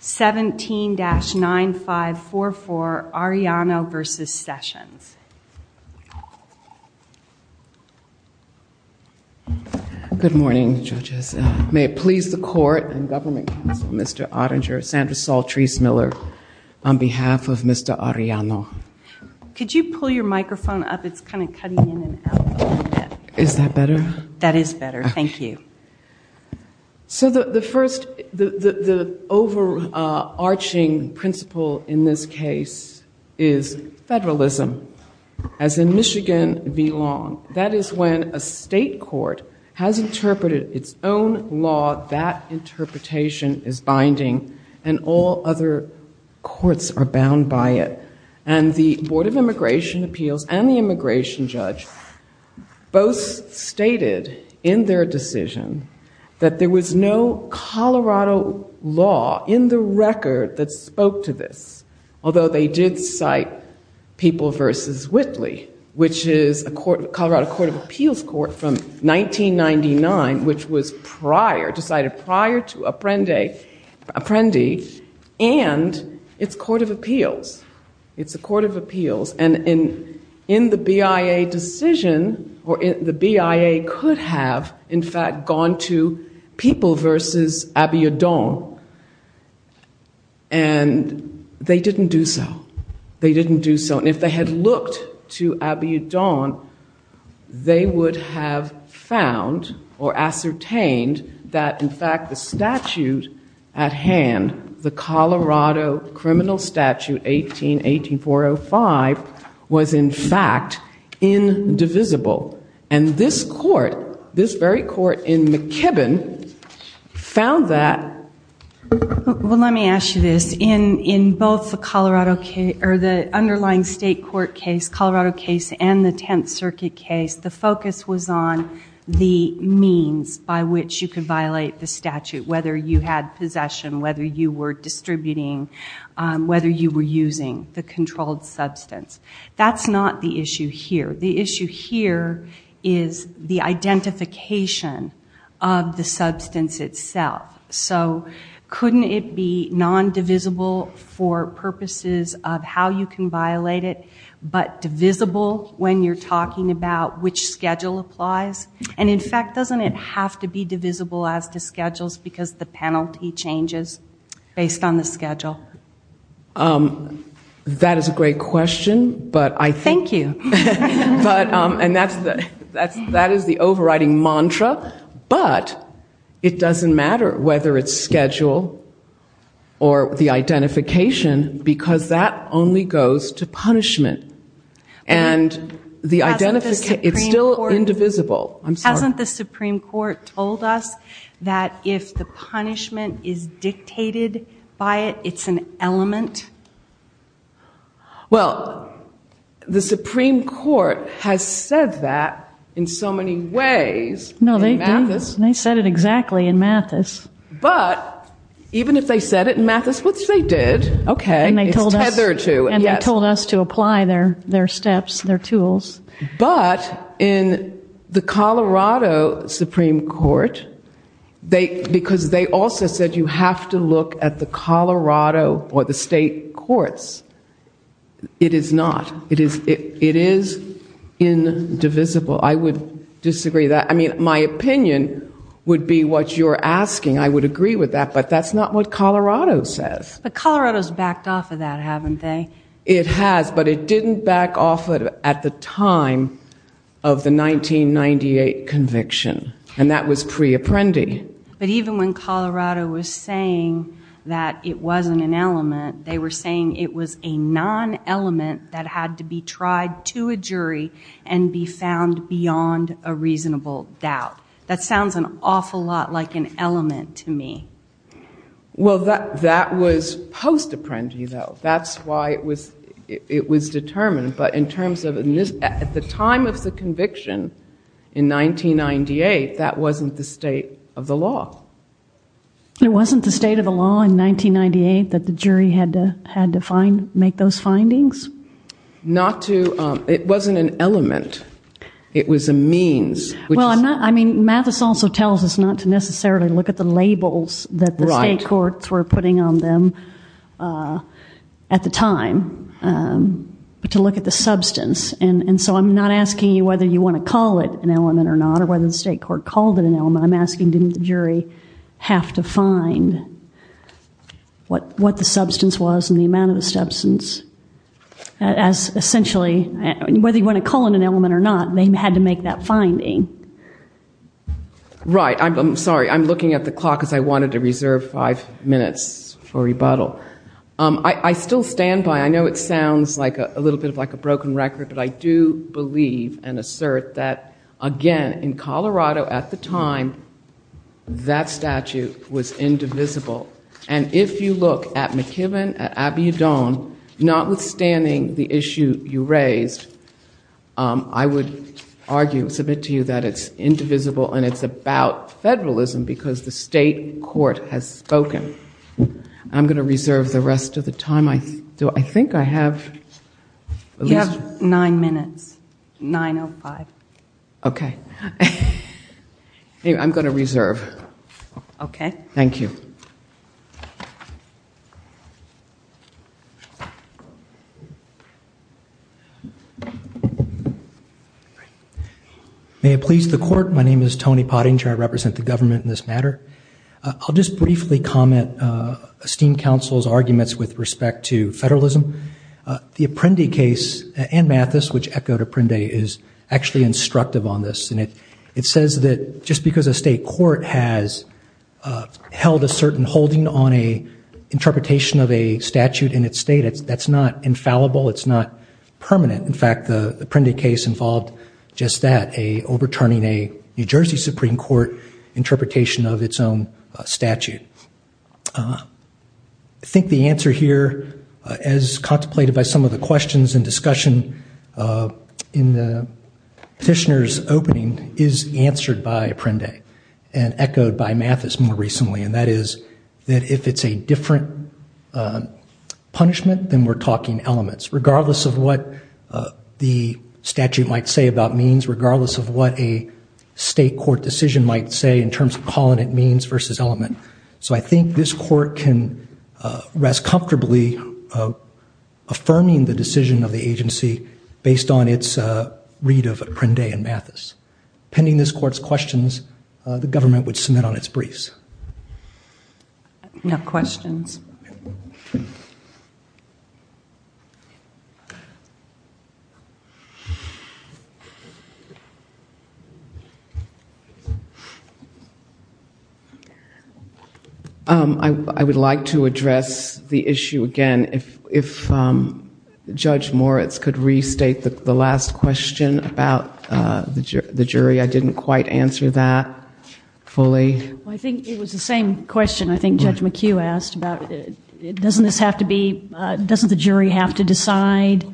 17-9544 Arellano v. Sessions. Good morning judges. May it please the court and government counsel Mr. Oettinger, Sandra Saul-Therese Miller on behalf of Mr. Arellano. Could you pull your microphone up? It's kind of cutting in and out. Is that better? That is overarching principle in this case is federalism, as in Michigan v. Long. That is when a state court has interpreted its own law, that interpretation is binding and all other courts are bound by it. And the Board of Immigration Appeals and the immigration judge both stated in their decision that there was no Colorado law in the record that spoke to this, although they did cite People v. Whitley, which is a Colorado Court of Appeals court from 1999, which was decided prior to the BIA decision, or the BIA could have, in fact, gone to People v. Abiodon and they didn't do so. They didn't do so. And if they had looked to Abiodon, they would have found or ascertained that, in fact, the statute at hand, the Colorado criminal statute 18-18405 was, in fact, indivisible. And this court, this very court in McKibbin, found that... Well, let me ask you this. In both the Colorado case, or the underlying state court case, Colorado case and the Tenth Circuit case, the focus was on the means by which you could violate the statute, whether you had possession, whether you were distributing, whether you were using the controlled substance. That's not the issue here. The issue here is the identification of the substance itself. So couldn't it be non-divisible for purposes of how you can violate it, but divisible when you're talking about which schedule applies? And, in fact, doesn't it have to be divisible as to schedules because the penalty changes based on the schedule? That is a great question, but I think... Thank you. And that is the overriding mantra, but it doesn't matter whether it's schedule or the identification, because that only goes to punishment. And the identification, it's still indivisible. Hasn't the Supreme Court told us that if the punishment is dictated by it, it's an element? Well, the Supreme Court has said that in so many ways. No, they said it exactly in Mathis. But, even if they said it in Mathis, which they did, okay, it's tethered to... And they told us to apply their steps, their tools. But, in the Colorado Supreme Court, because they also said you have to look at the Colorado or the state courts, it is not. It is indivisible. I would disagree with that. I mean, my opinion would be what you're asking. I would agree with that, but that's not what Colorado says. But at the time of the 1998 conviction, and that was pre-apprendi. But, even when Colorado was saying that it wasn't an element, they were saying it was a non-element that had to be tried to a jury and be found beyond a reasonable doubt. That sounds an awful lot like an element to me. Well, that was post determined. But, in terms of, at the time of the conviction in 1998, that wasn't the state of the law. It wasn't the state of the law in 1998 that the jury had to find, make those findings? Not to, it wasn't an element. It was a means. Well, I'm not, I mean, Mathis also tells us not to necessarily look at the labels that the time, but to look at the substance. And so, I'm not asking you whether you want to call it an element or not, or whether the state court called it an element. I'm asking, didn't the jury have to find what the substance was and the amount of the substance? As essentially, whether you want to call it an element or not, they had to make that finding. Right. I'm sorry. I'm looking at the clock because I know it sounds like a little bit of like a broken record, but I do believe and assert that, again, in Colorado, at the time, that statute was indivisible. And if you look at McKibbin, at Abiodun, notwithstanding the issue you raised, I would argue, submit to you, that it's indivisible and it's about federalism because the state court has spoken. I'm going to reserve the rest of the time I have. You have nine minutes. 9.05. Okay. I'm going to reserve. Okay. Thank you. May it please the court, my name is Tony Pottinger. I represent the government in this matter. I'll just briefly comment Esteemed Council's arguments with respect to federalism. The Apprendi case and Mathis, which echoed Apprendi, is actually instructive on this. And it says that just because a state court has held a certain holding on a interpretation of a statute in its state, that's not infallible. It's not permanent. In fact, the Apprendi case involved just that, overturning a New Jersey Supreme Court interpretation of its own statute. I think the answer here, as contemplated by some of the questions and discussion in the petitioner's opening, is answered by Apprendi and echoed by Mathis more recently. And that is that if it's a different punishment, then we're talking elements. Regardless of what the statute might say about means, regardless of what a state court decision might say in terms of calling it means versus element. So I think this court can rest comfortably affirming the decision of the agency based on its read of Apprendi and Mathis. Pending this court's questions, the government would submit on its briefs. No questions. I would like to address the issue again. If Judge Moritz could restate the last question about the jury. I didn't quite answer that fully. I think it was the same question I think Judge McHugh asked about it. Doesn't this have to be, doesn't the jury have to decide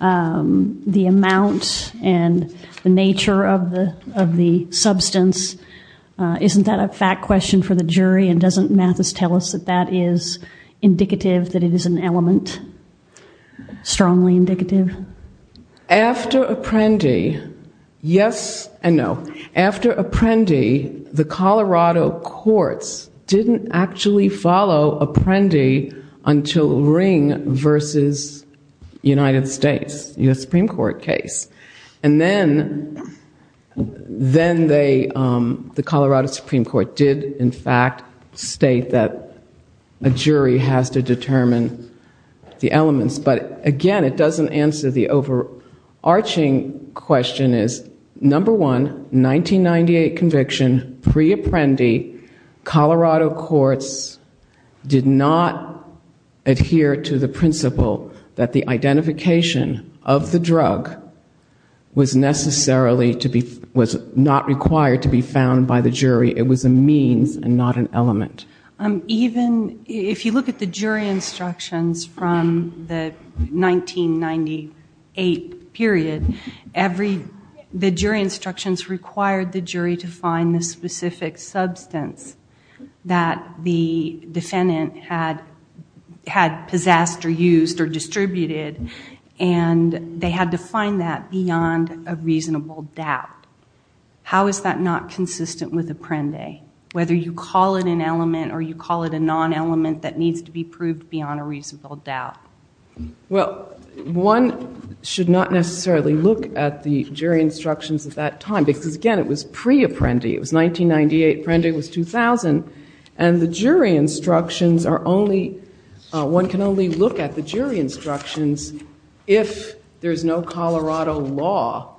the amount and the nature of the substance? Isn't that a fact question for the jury and doesn't Mathis tell us that that is indicative that it is an element? Strongly indicative? After Apprendi, yes and no. After Apprendi, the Colorado courts didn't actually follow Apprendi until Ring versus United States, US Supreme Court case. And then the Colorado Supreme Court did in fact state that a jury has to determine the elements. But again it doesn't answer the overarching question is number one, 1998 conviction, pre-Apprendi, Colorado courts did not adhere to the principle that the identification of the drug was necessarily to be, was not required to be found by the jury. It was a means and not an element. Even if you look at the jury instructions from the 1998 period, every, the jury instructions required the jury to find the specific substance that the defendant had had possessed or used or distributed and they had to find that beyond a reasonable doubt. How is that not consistent with Apprendi? Whether you call it an element or you call it a non-element that needs to be proved beyond a reasonable doubt. Well one should not necessarily look at the jury instructions at that time because again it was pre-Apprendi, it was 1998, Apprendi was 2000 and the jury instructions are only, one can only look at the jury instructions if there's no Colorado law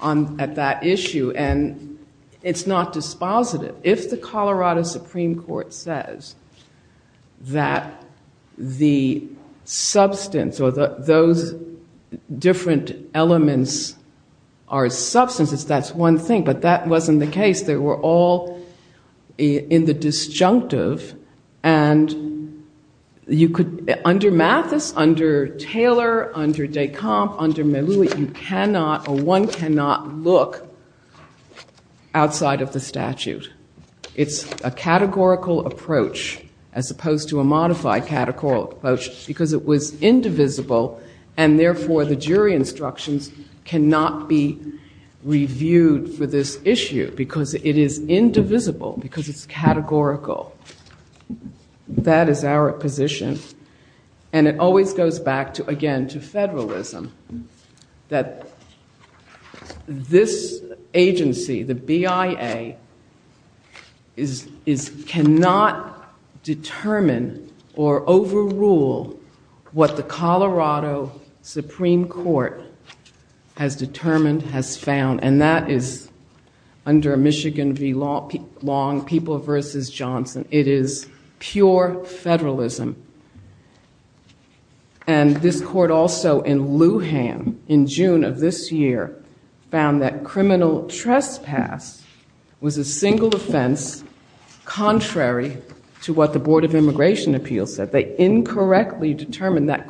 on, at that issue and it's not dispositive. If the Colorado Supreme Court says that the substance or those different elements are substances, that's one thing, but that wasn't the case. They were all in the disjunctive and you could, under Mathis, under Taylor, under Descamp, under Melloui, you cannot or one cannot look outside of the statute. It's a categorical approach as opposed to a modified categorical approach because it was indivisible and therefore the jury instructions cannot be reviewed for this issue because it is indivisible, because it's categorical. That is our position and it always goes back to again to federalism, that this agency, the BIA, cannot determine or the Supreme Court has determined, has found and that is under Michigan v. Long, People v. Johnson. It is pure federalism and this court also in Lujan in June of this year found that criminal trespass was a single offense contrary to what the Board of Immigration Appeals said. They incorrectly determined that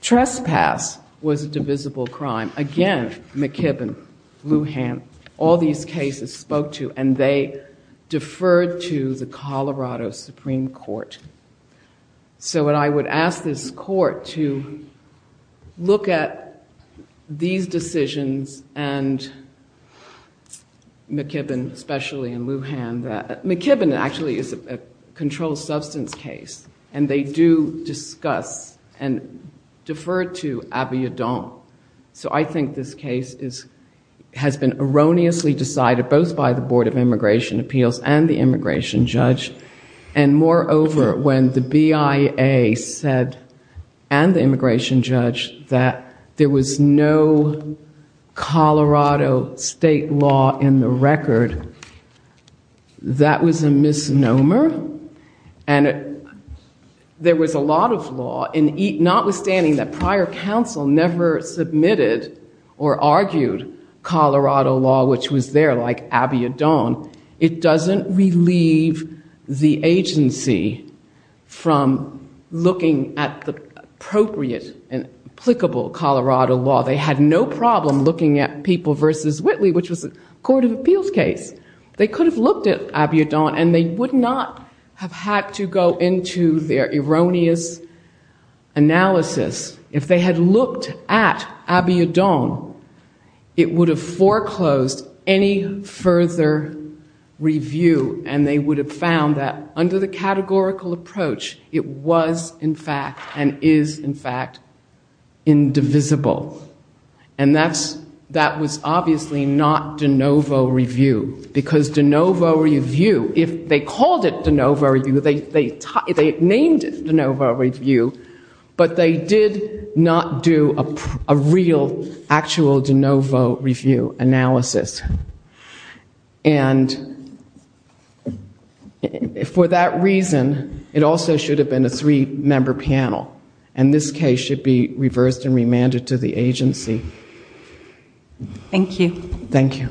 trespass was a divisible crime. Again, McKibbin, Lujan, all these cases spoke to and they deferred to the Colorado Supreme Court. So what I would ask this court to look at these decisions and McKibbin, especially in Lujan, McKibbin actually is a controlled substance case and they do discuss and deferred to Abiodun. So I think this case has been erroneously decided both by the Board of Immigration Appeals and the immigration judge and moreover when the BIA said and the immigration judge that there was no Colorado state law in the record, that was a misnomer and there was a lot of law and notwithstanding that prior counsel never submitted or argued Colorado law which was there like Abiodun, it doesn't relieve the agency from looking at the appropriate and applicable Colorado law. They had no problem looking at People v. Whitley which was a Court of Appeals case. They could have looked at Abiodun and they would not have had to go into their erroneous analysis. If they had looked at Abiodun, it would have foreclosed any further review and they would have found that under the categorical approach it was in fact and is in fact indivisible and that's that was obviously not de novo review because de novo review, if they called it de novo review, they named it de novo review, but they did not do a real actual de novo review analysis and for that reason it also should have been a three-member panel and this case should be reversed and reviewed by the agency. Thank you.